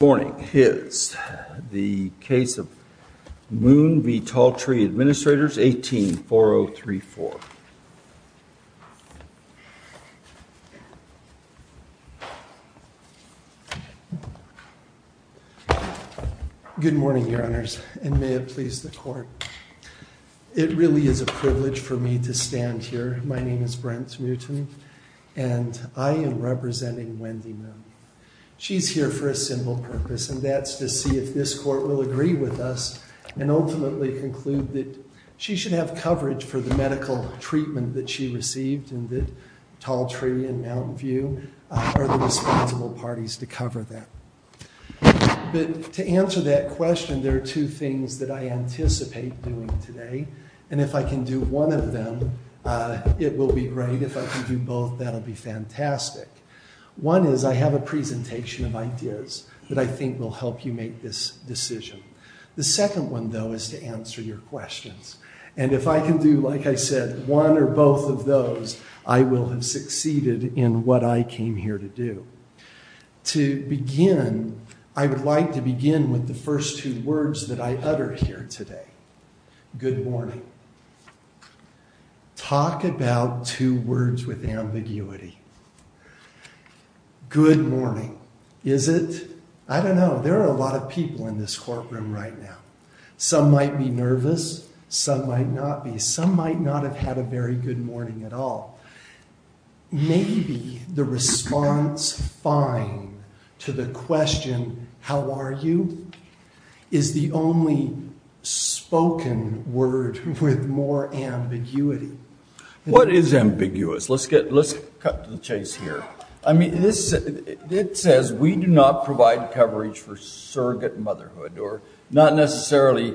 Good morning. It is the case of Moon v. Tall Tree Administrators, 18-4034. Good morning, your honors, and may it please the court. It really is a privilege for me to stand here. My name is Brent Newton and I am representing Wendy She's here for a simple purpose and that's to see if this court will agree with us and ultimately conclude that she should have coverage for the medical treatment that she received and that Tall Tree and Mountain View are the responsible parties to cover that. But to answer that question, there are two things that I anticipate doing today, and if I can do one of them, it will be great. If I can do both, that'll be fantastic. One is I have a presentation of ideas that I think will help you make this decision. The second one though is to answer your questions, and if I can do, like I said, one or both of those, I will have succeeded in what I came here to do. To begin, I would like to begin with the first two words that I utter here today. Good morning. Talk about two words with ambiguity. Good morning. Is it? I don't know. There are a lot of people in this courtroom right now. Some might be nervous, some might not be. Some might not have had a very good morning at all. Maybe the response fine to the question, how are you, is the only spoken word with more ambiguity. What is ambiguous? Let's cut to the chase here. I mean, it says we do not provide coverage for surrogate motherhood, or not necessarily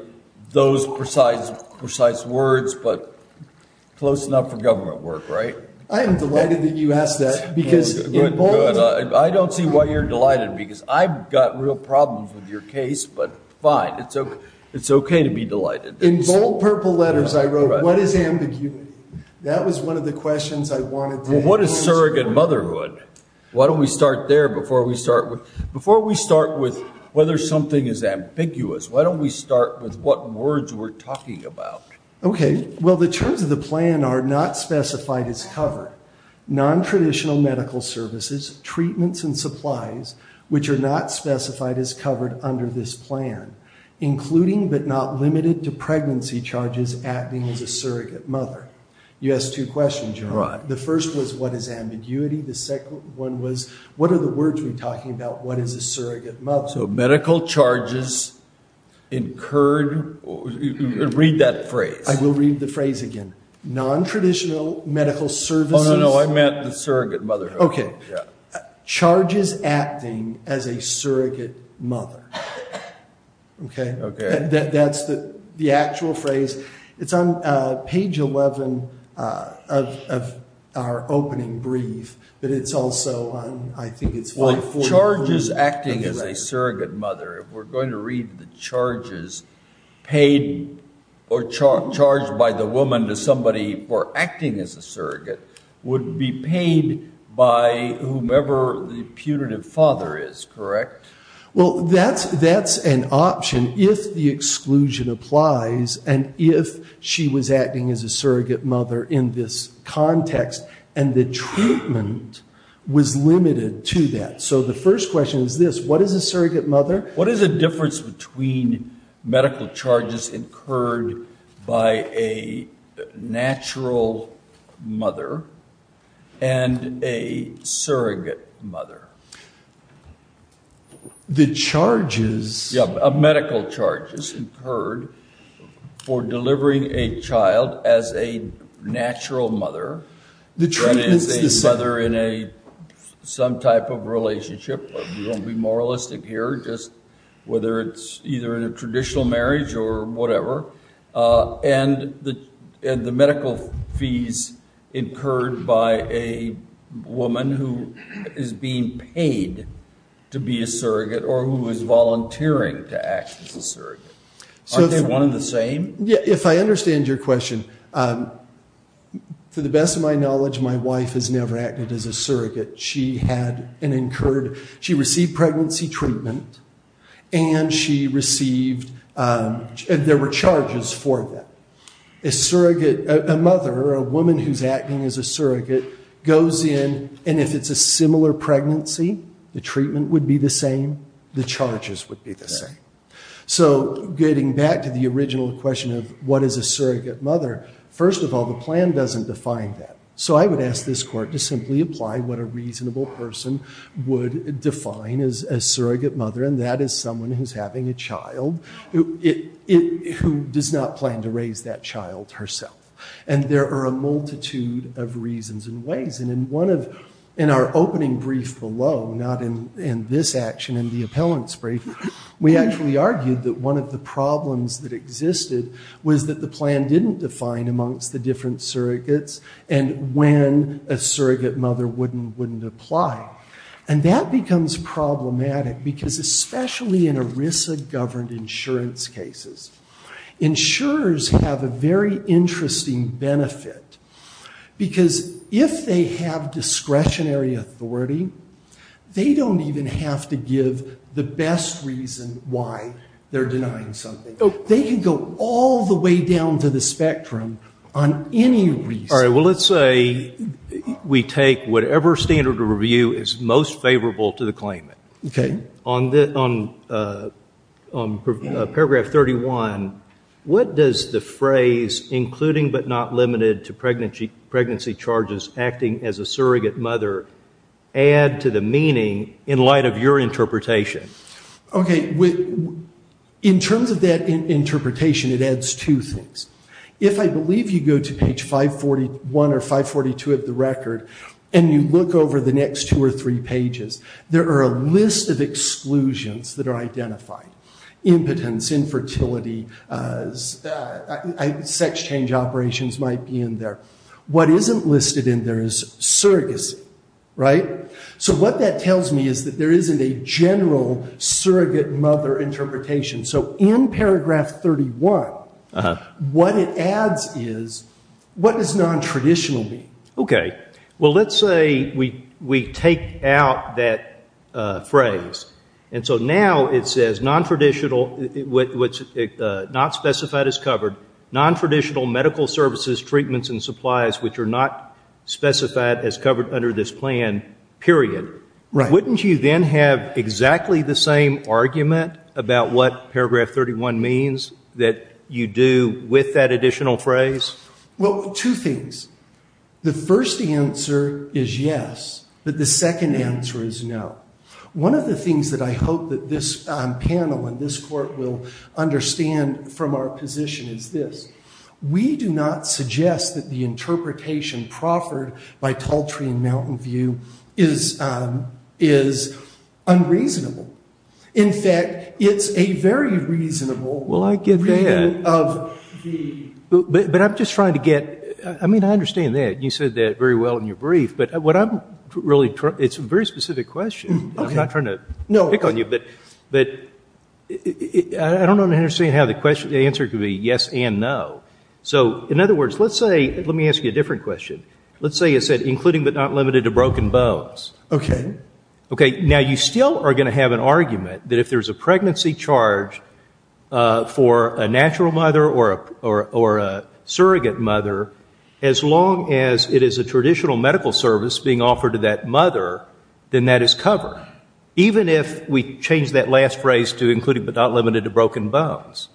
those precise words, but close enough for government work, right? I am delighted that you asked that. Good, good. I don't see why you're delighted, because I've got real problems with your case, but fine. It's okay to be delighted. In bold purple letters, I wrote, what is ambiguity? That was one of the questions I wanted. What is surrogate motherhood? Why don't we start there before we start with, before we start with whether something is ambiguous, why don't we start with what words we're talking about? Okay. Well, the terms of the plan are not specified as covered. Non-traditional medical services, treatments and supplies, which are not specified as covered under this plan, including but not limited to pregnancy charges, acting as a surrogate mother. You asked two questions, John. The first was what is ambiguity? The second one was, what are the words we're talking about? What is a surrogate mother? So medical charges incurred, read that phrase. I will read the phrase again. Non-traditional medical services. Oh no, I meant the surrogate motherhood. Okay. Charges acting as a surrogate mother. Okay. Okay. That's the actual phrase. It's on page 11 of our opening brief, but it's also on, I think it's 543. Charges acting as a surrogate mother. If we're going to read the charges paid or charged by the woman to somebody for acting as a surrogate would be paid by whomever the punitive father is, correct? Well, that's an option if the exclusion applies and if she was acting as a surrogate mother in this context and the treatment was limited to that. So the first question is this, what is a natural mother and a surrogate mother? The charges- Yeah, medical charges incurred for delivering a child as a natural mother- The treatment's the same- Whether in some type of relationship, but we won't be moralistic here, just whether it's either in a traditional marriage or whatever. And the medical fees incurred by a woman who is being paid to be a surrogate or who is volunteering to act as a surrogate. Aren't they one and the same? Yeah. If I understand your question, to the best of my knowledge, my wife has never acted as a surrogate. She had an incurred, she received pregnancy treatment and she received, there were charges for that. A surrogate, a mother, a woman who's acting as a surrogate goes in and if it's a similar pregnancy, the treatment would be the same, the charges would be the same. So getting back to the original question of what is a surrogate mother, first of all, the plan doesn't define that. So I would this court to simply apply what a reasonable person would define as a surrogate mother, and that is someone who's having a child who does not plan to raise that child herself. And there are a multitude of reasons and ways. And in one of, in our opening brief below, not in this action, in the appellant's brief, we actually argued that one of the problems that a surrogate mother wouldn't apply. And that becomes problematic because especially in ERISA-governed insurance cases, insurers have a very interesting benefit. Because if they have discretionary authority, they don't even have to give the best reason why they're denying something. They can go all the way down to the spectrum on any reason. Well, let's say we take whatever standard of review is most favorable to the claimant. Okay. On paragraph 31, what does the phrase, including but not limited to pregnancy charges acting as a surrogate mother, add to the meaning in light of your interpretation? Okay. In terms of that interpretation, it adds two things. If I believe you go to page 541 or 542 of the record, and you look over the next two or three pages, there are a list of exclusions that are identified. Impotence, infertility, sex change operations might be in there. What isn't listed in there is surrogacy, right? So what that tells me is that there isn't a general surrogate mother interpretation. So in paragraph 31, what it adds is, what does non-traditional mean? Okay. Well, let's say we take out that phrase. And so now it says, not specified as covered, non-traditional medical services, treatments, and supplies, which are not specified as covered under this plan, period. Right. Wouldn't you then have exactly the same argument about what paragraph 31 means that you do with that additional phrase? Well, two things. The first answer is yes, but the second answer is no. One of the things that I hope that this panel and this Court will understand from our position is this. We do not suggest that the interpretation proffered by Taltree and Mountain View is unreasonable. In fact, it's a very reasonable— Well, I get that. But I'm just trying to get—I mean, I understand that. You said that very well in your brief. But what I'm really—it's a very specific question. I'm not trying to pick on you, but I don't know. Let me ask you a different question. Let's say you said including but not limited to broken bones. Okay. Okay. Now, you still are going to have an argument that if there's a pregnancy charge for a natural mother or a surrogate mother, as long as it is a traditional medical service being offered to that mother, then that is covered, even if we change that last phrase to including but not limited to broken bones.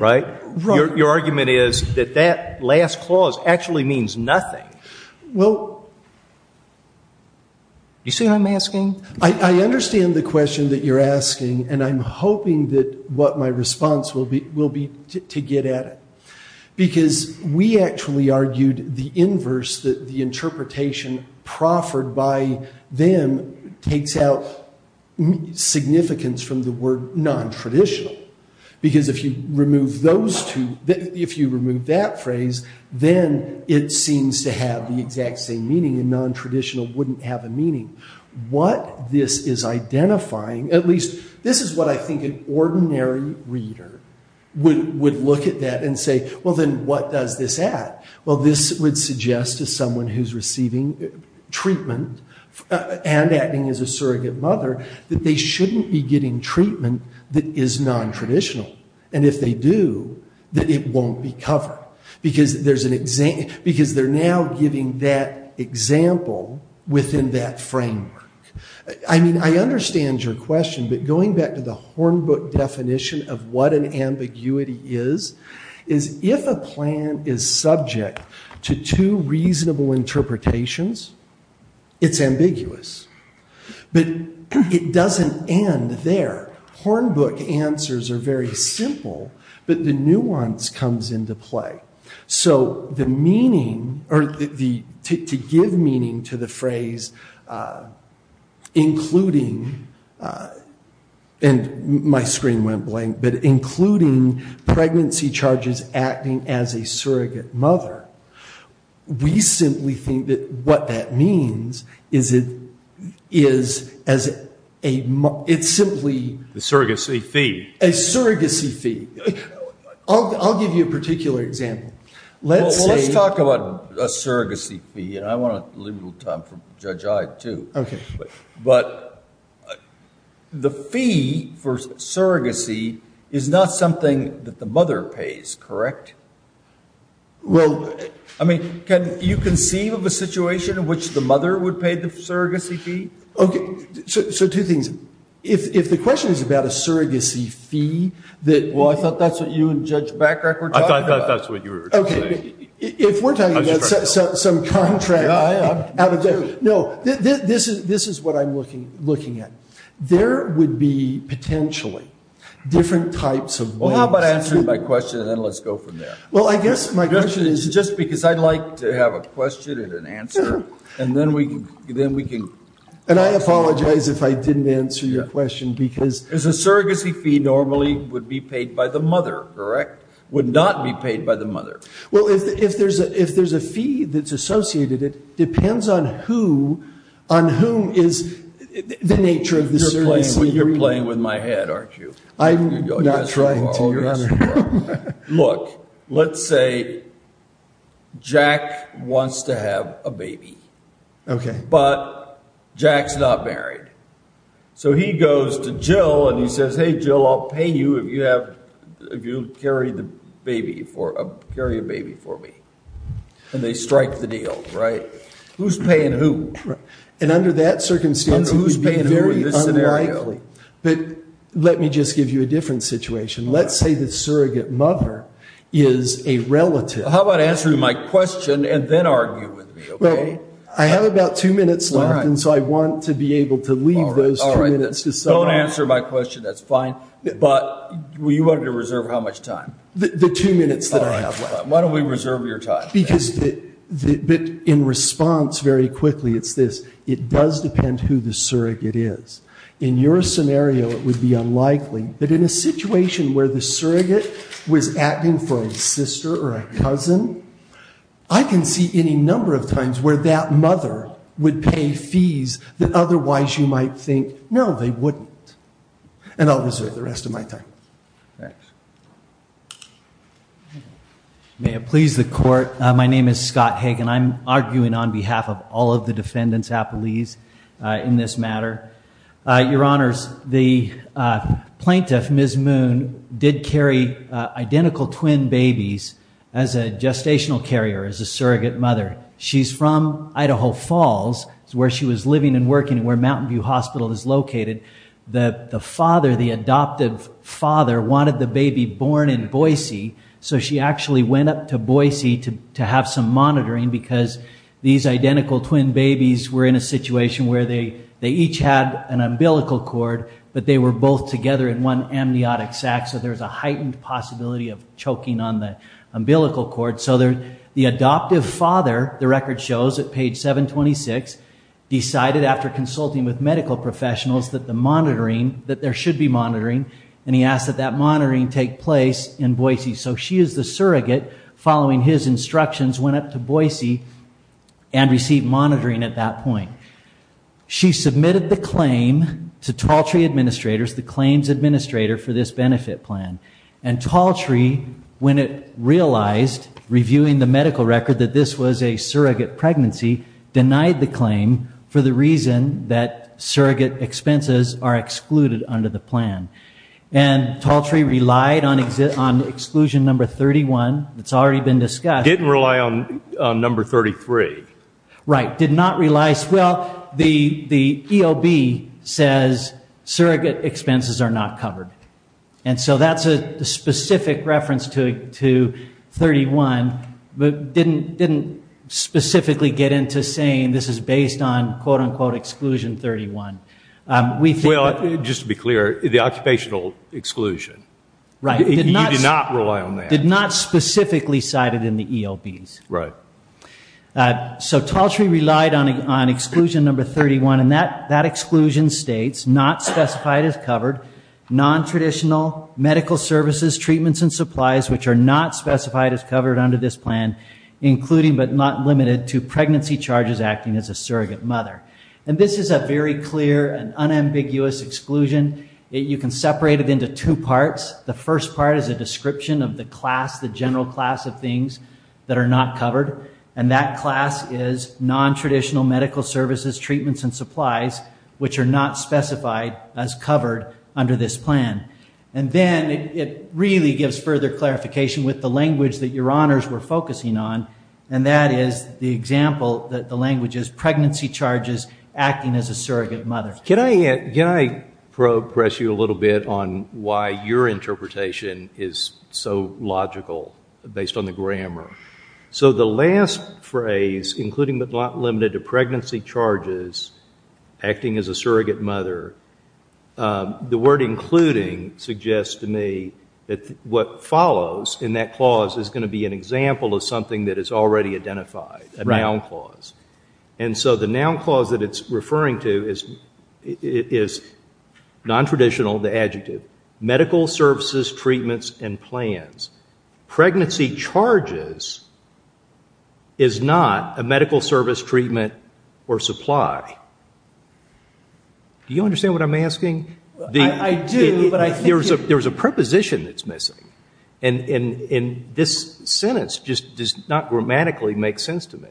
Right? Right. Your argument is that that last clause actually means nothing. Well— You see what I'm asking? I understand the question that you're asking, and I'm hoping that what my response will be will be to get at it. Because we actually argued the inverse, that the interpretation proffered by them takes out significance from the word non-traditional. Because if you remove those two—if you remove that phrase, then it seems to have the exact same meaning, and non-traditional wouldn't have a meaning. What this is identifying—at least, this is what I think an ordinary reader would look at that and say, well, then what does this add? Well, this would suggest to someone who's receiving treatment and acting as a surrogate mother that they shouldn't be getting treatment that is non-traditional. And if they do, then it won't be covered. Because there's an—because they're now giving that example within that framework. I mean, I understand your question, but going back to the Hornbook definition of what an ambiguity is, is if a plan is subject to two reasonable interpretations, it's ambiguous. But it doesn't end there. Hornbook answers are very simple, but the nuance comes into play. So the meaning—or to give meaning to the phrase, including—and my screen went blank—but including pregnancy charges acting as a surrogate mother, we simply think that what that means is it is as a—it's simply— The surrogacy fee. A surrogacy fee. I'll give you a particular example. Let's say— Well, let's talk about a surrogacy fee, and I want to leave a little time for Judge Ide, too. But the fee for surrogacy is not something that the mother pays, correct? Well, I mean, can you conceive of a situation in which the mother would pay the surrogacy fee? Okay. So two things. If the question is about a surrogacy fee that— Well, I thought that's what you and Judge Bachrach were talking about. I thought that's what you were trying to say. Okay. If we're talking about some contract— Yeah, I am. No, this is what I'm looking at. There would be potentially different types of ways— Well, I guess my question is— Just because I'd like to have a question and an answer, and then we can— And I apologize if I didn't answer your question, because— Because a surrogacy fee normally would be paid by the mother, correct? Would not be paid by the mother. Well, if there's a fee that's associated, it depends on who—on whom is the nature of the— You're playing with my head, aren't you? I'm not trying to. Look, let's say Jack wants to have a baby, but Jack's not married. So he goes to Jill and he says, Hey, Jill, I'll pay you if you carry a baby for me. And they strike the deal, right? Who's paying who? And under that circumstance, it would be very unlikely. But let me just give you a different situation. Let's say the surrogate mother is a relative. How about answering my question and then argue with me, okay? Well, I have about two minutes left, and so I want to be able to leave those two minutes to someone. Don't answer my question, that's fine. But you wanted to reserve how much time? The two minutes that I have left. Why don't we reserve your time? Because—but in response, very quickly, it's this. It does depend who the surrogate is. In your scenario, it would be unlikely. But in a situation where the surrogate was acting for a sister or a cousin, I can see any number of times where that mother would pay fees that otherwise you might think, No, they wouldn't. And I'll reserve the rest of my time. Thanks. May it please the court. My name is Scott Hagan. I'm arguing on behalf of all of the defendants' appellees in this matter. Your Honors, the plaintiff, Ms. Moon, did carry identical twin babies as a gestational carrier, as a surrogate mother. She's from Idaho Falls. It's where she was living and working and where Mountain View Hospital is located. The father, the adoptive father, wanted the baby born in Boise, so she actually went up to Boise to have some monitoring because these identical twin babies were in a situation where they each had an umbilical cord, but they were both together in one amniotic sac, so there's a heightened possibility of choking on the umbilical cord. So the adoptive father, the record shows at page 726, decided after consulting with medical professionals that the monitoring, that there should be monitoring, and he asked that that monitoring take place in Boise. So she is the surrogate, following his instructions, went up to Boise and received monitoring at that point. She submitted the claim to Taltree Administrators, the claims administrator for this benefit plan. And Taltree, when it realized, reviewing the medical record, that this was a surrogate pregnancy, denied the claim for the reason that surrogate expenses are excluded under the plan. And Taltree relied on exclusion number 31. It's already been discussed. Didn't rely on number 33. Right. Did not realize, well, the EOB says surrogate expenses are not covered. And so that's a specific reference to 31, but didn't specifically get into saying this is based on, quote unquote, exclusion 31. Well, just to be clear, the occupational exclusion. Right. You did not rely on that. Did not specifically cite it in the EOBs. Right. So Taltree relied on exclusion number 31, and that exclusion states, not specified as covered, non-traditional medical services, treatments, and supplies, which are not specified as covered under this plan, including but not limited to pregnancy charges acting as a surrogate mother. And this is a very clear and unambiguous exclusion. You can separate it into two parts. The first part is a description of the class, the general class of things that are not covered. And that class is non-traditional medical services, treatments, and supplies, which are not specified as covered under this plan. And then it really gives further clarification with the language that your honors were focusing on. And that is the example that the language is, pregnancy charges acting as a surrogate mother. Can I progress you a little bit on why your interpretation is so logical based on the grammar? So the last phrase, including but not limited to pregnancy charges acting as a surrogate mother, the word including suggests to me that what follows in that clause is going to be an example of something that is already identified, a noun clause. And so the noun clause that it's referring to is non-traditional, the adjective, medical services, treatments, and plans. Pregnancy charges is not a medical service, treatment, or supply. Do you understand what I'm asking? I do, but I think it's... There's a preposition that's missing. And this sentence just does not grammatically make sense to me.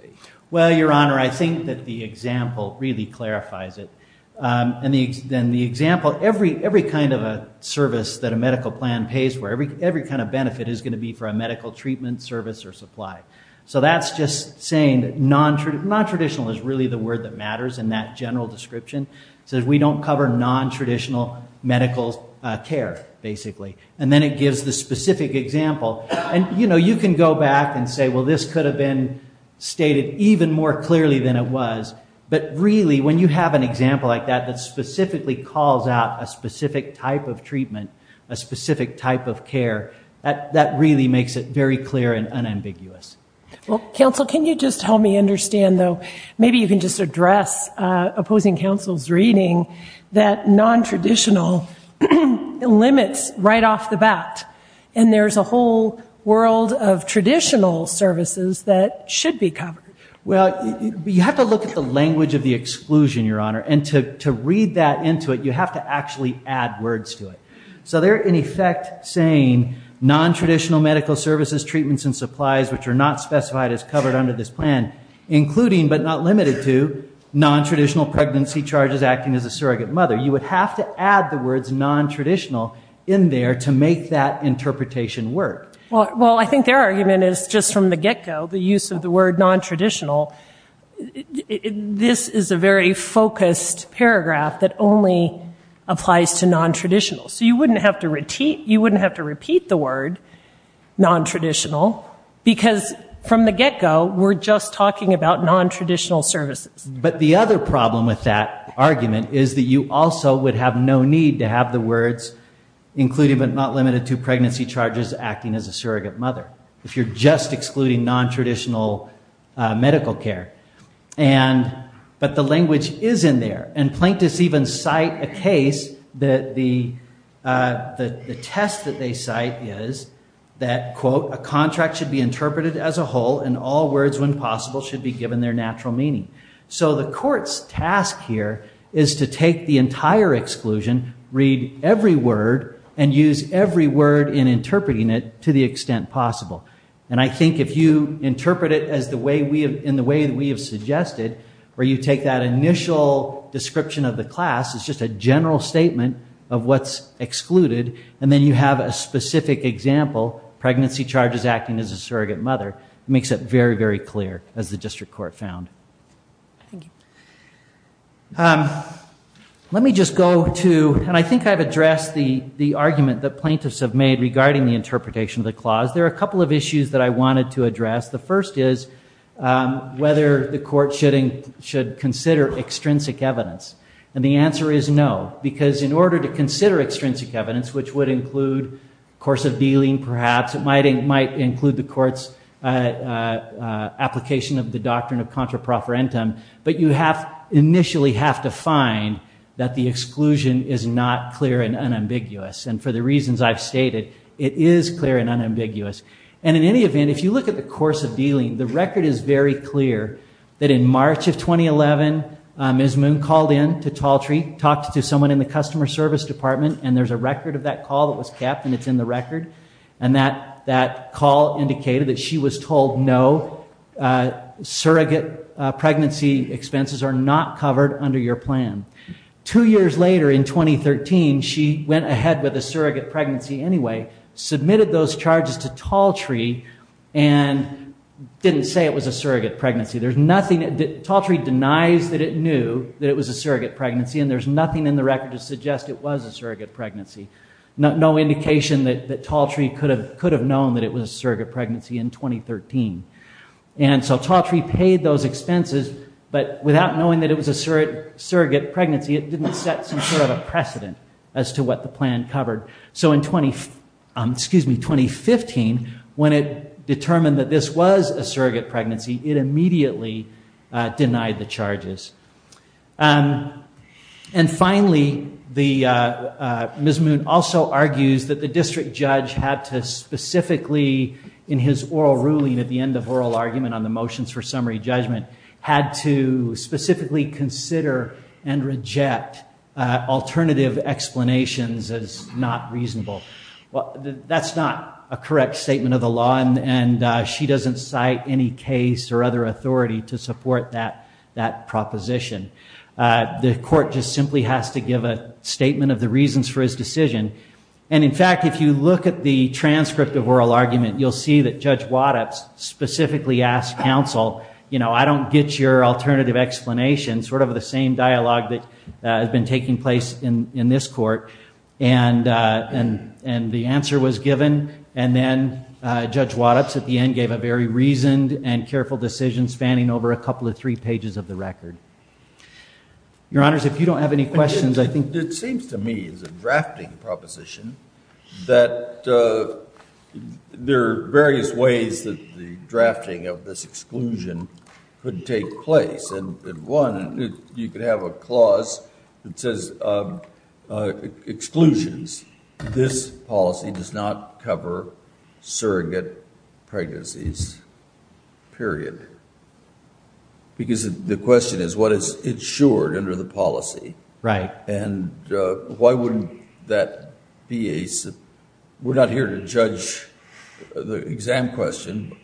Well, your honor, I think that the example really clarifies it. And the example, every kind of a service that a medical plan pays for, every kind of benefit is going to be for a medical treatment, service, or supply. So that's just saying that non-traditional is really the word that matters in that general description. So we don't cover non-traditional medical care, basically. And then it gives the specific example. And you can go back and say, well, this could have been stated even more clearly than it was. But really, when you have an example like that, that specifically calls out a specific type of treatment, a specific type of care, that really makes it very clear and unambiguous. Well, counsel, can you just help me understand, though? Maybe you can just address opposing counsel's reading that non-traditional limits right off the bat. And there's a whole world of traditional services that should be covered. Well, you have to look at the language of the exclusion, your honor. And to read that into it, you have to actually add words to it. So they're, in effect, saying non-traditional medical services, treatments, and supplies, which are not specified as covered under this plan, including, but not limited to, non-traditional pregnancy charges, acting as a surrogate mother. You would have to add the words non-traditional in there to make that interpretation work. Well, I think their argument is, just from the get-go, the use of the word non-traditional, this is a very focused paragraph that only applies to non-traditional. So you wouldn't have to repeat the word non-traditional, because from the get-go, we're just talking about non-traditional services. But the other problem with that argument is that you also would have no need to have the words including, but not limited to, pregnancy charges acting as a surrogate mother, if you're just excluding non-traditional medical care. But the language is in there. And plaintiffs even cite a case that the test that they cite is that, quote, a contract should be interpreted as a whole, and all words, when possible, should be given their natural meaning. So the court's task here is to take the entire exclusion, read every word, and use every word in interpreting it to the extent possible. And I think if you interpret it in the way that we have suggested, where you take that initial description of the class as just a general statement of what's excluded, and then you have a specific example, pregnancy charges acting as a surrogate mother, it makes it very, very clear, as the district court found. Thank you. Let me just go to, and I think I've addressed the argument that plaintiffs have made regarding the interpretation of the clause. There are a couple of issues that I wanted to address. The first is whether the court should consider extrinsic evidence. And the answer is no, because in order to consider extrinsic evidence, which would include course of dealing, perhaps, it might include the court's application of the doctrine of contraproferentum. But you initially have to find that the exclusion is not clear and unambiguous. And for the reasons I've stated, it is clear and unambiguous. And in any event, if you look at the course of dealing, the record is very clear that in March of 2011, Ms. Moon called in to Taltry, talked to someone in the customer service department, and there's a record of that call that was kept, and it's in the record. And that call indicated that she was told, no, surrogate pregnancy expenses are not covered under your plan. Two years later, in 2013, she went ahead with a surrogate pregnancy anyway, submitted those charges to Taltry, and didn't say it was a surrogate pregnancy. There's nothing. Taltry denies that it knew that it was a surrogate pregnancy, and there's nothing in the record to suggest it was a surrogate pregnancy. No indication that Taltry could have known that it was a surrogate pregnancy in 2013. And so Taltry paid those expenses, but without knowing that it was a surrogate pregnancy, it didn't set some sort of a precedent as to what the plan covered. So in 2015, when it determined that this was a surrogate pregnancy, it immediately denied the charges. And finally, Ms. Moon also argues that the district judge had to specifically, in his oral ruling at the end of oral argument on the motions for summary judgment, had to specifically consider and reject alternative explanations as not reasonable. That's not a correct statement of the law, and she doesn't cite any case or other authority to support that proposition. The court just simply has to give a statement of the reasons for his decision. And in fact, if you look at the transcript of oral argument, you'll see that Judge Waddup specifically asked counsel, you know, I don't get your alternative explanation, sort of the same dialogue that has been taking place in this court. And the answer was given. And then Judge Waddup at the end gave a very reasoned and careful decision spanning over a couple of three pages of the record. Your Honors, if you don't have any questions, I think... It seems to me as a drafting proposition that there are various ways that the drafting of this exclusion could take place. And one, you could have a clause that says, uh, exclusions, this policy does not cover surrogate pregnancies, period. Because the question is what is insured under the policy? Right. And why wouldn't that be a... We're not here to judge the exam question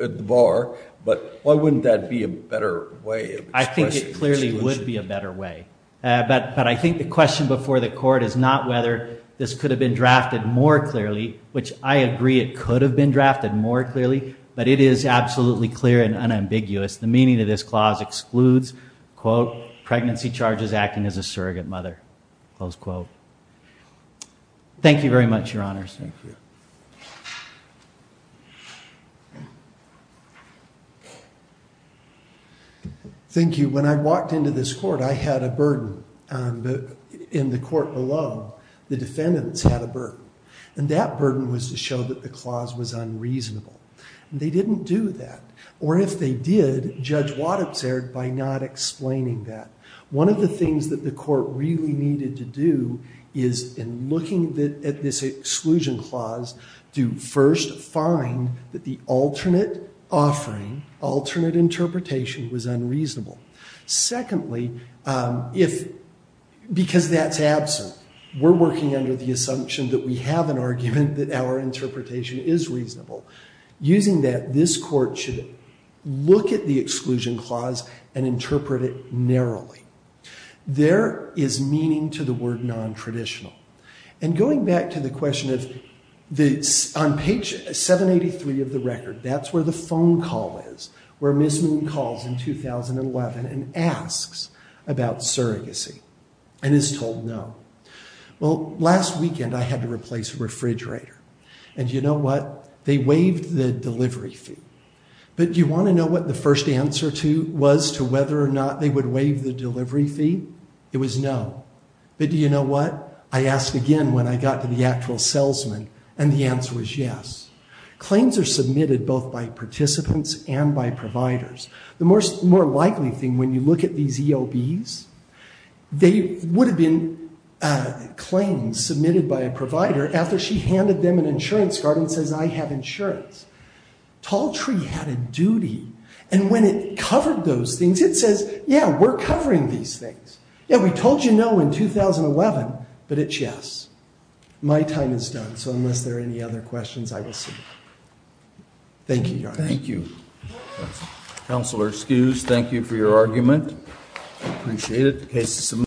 at the bar, but why wouldn't that be a better way of... I think it clearly would be a better way. But I think the question before the court is not whether this could have been drafted more clearly, which I agree it could have been drafted more clearly, but it is absolutely clear and unambiguous. The meaning of this clause excludes, quote, pregnancy charges acting as a surrogate mother, close quote. Thank you very much, Your Honors. Thank you. Thank you. When I walked into this court, I had a burden. And in the court below, the defendants had a burden. And that burden was to show that the clause was unreasonable. And they didn't do that. Or if they did, Judge Watt observed by not explaining that. One of the things that the court really needed to do is in looking at this exclusion clause, to first find that the alternate offering, alternate interpretation was unreasonable. Secondly, because that's absent, we're working under the assumption that we have an argument that our interpretation is reasonable. Using that, this court should look at the exclusion clause and interpret it narrowly. There is meaning to the word non-traditional. And going back to the question of on page 783 of the record, that's where the phone call is, where Ms. Moon calls in 2011 and asks about surrogacy and is told no. Well, last weekend, I had to replace a refrigerator. And you know what? They waived the delivery fee. But you want to know what the first answer was to whether or not they would waive the delivery fee? It was no. But do you know what? I asked again when I got to the actual salesman. And the answer was yes. Claims are submitted both by participants and by providers. The more likely thing, when you look at these EOBs, they would have been claims submitted by a provider after she handed them an insurance card and says, I have insurance. Talltree had a duty. And when it covered those things, it says, yeah, we're covering these things. Yeah, we told you no in 2011. But it's yes. My time is done. So unless there are any other questions, I will see. Thank you, Your Honor. Thank you. Counselor, excuse. Thank you for your argument. Appreciate it.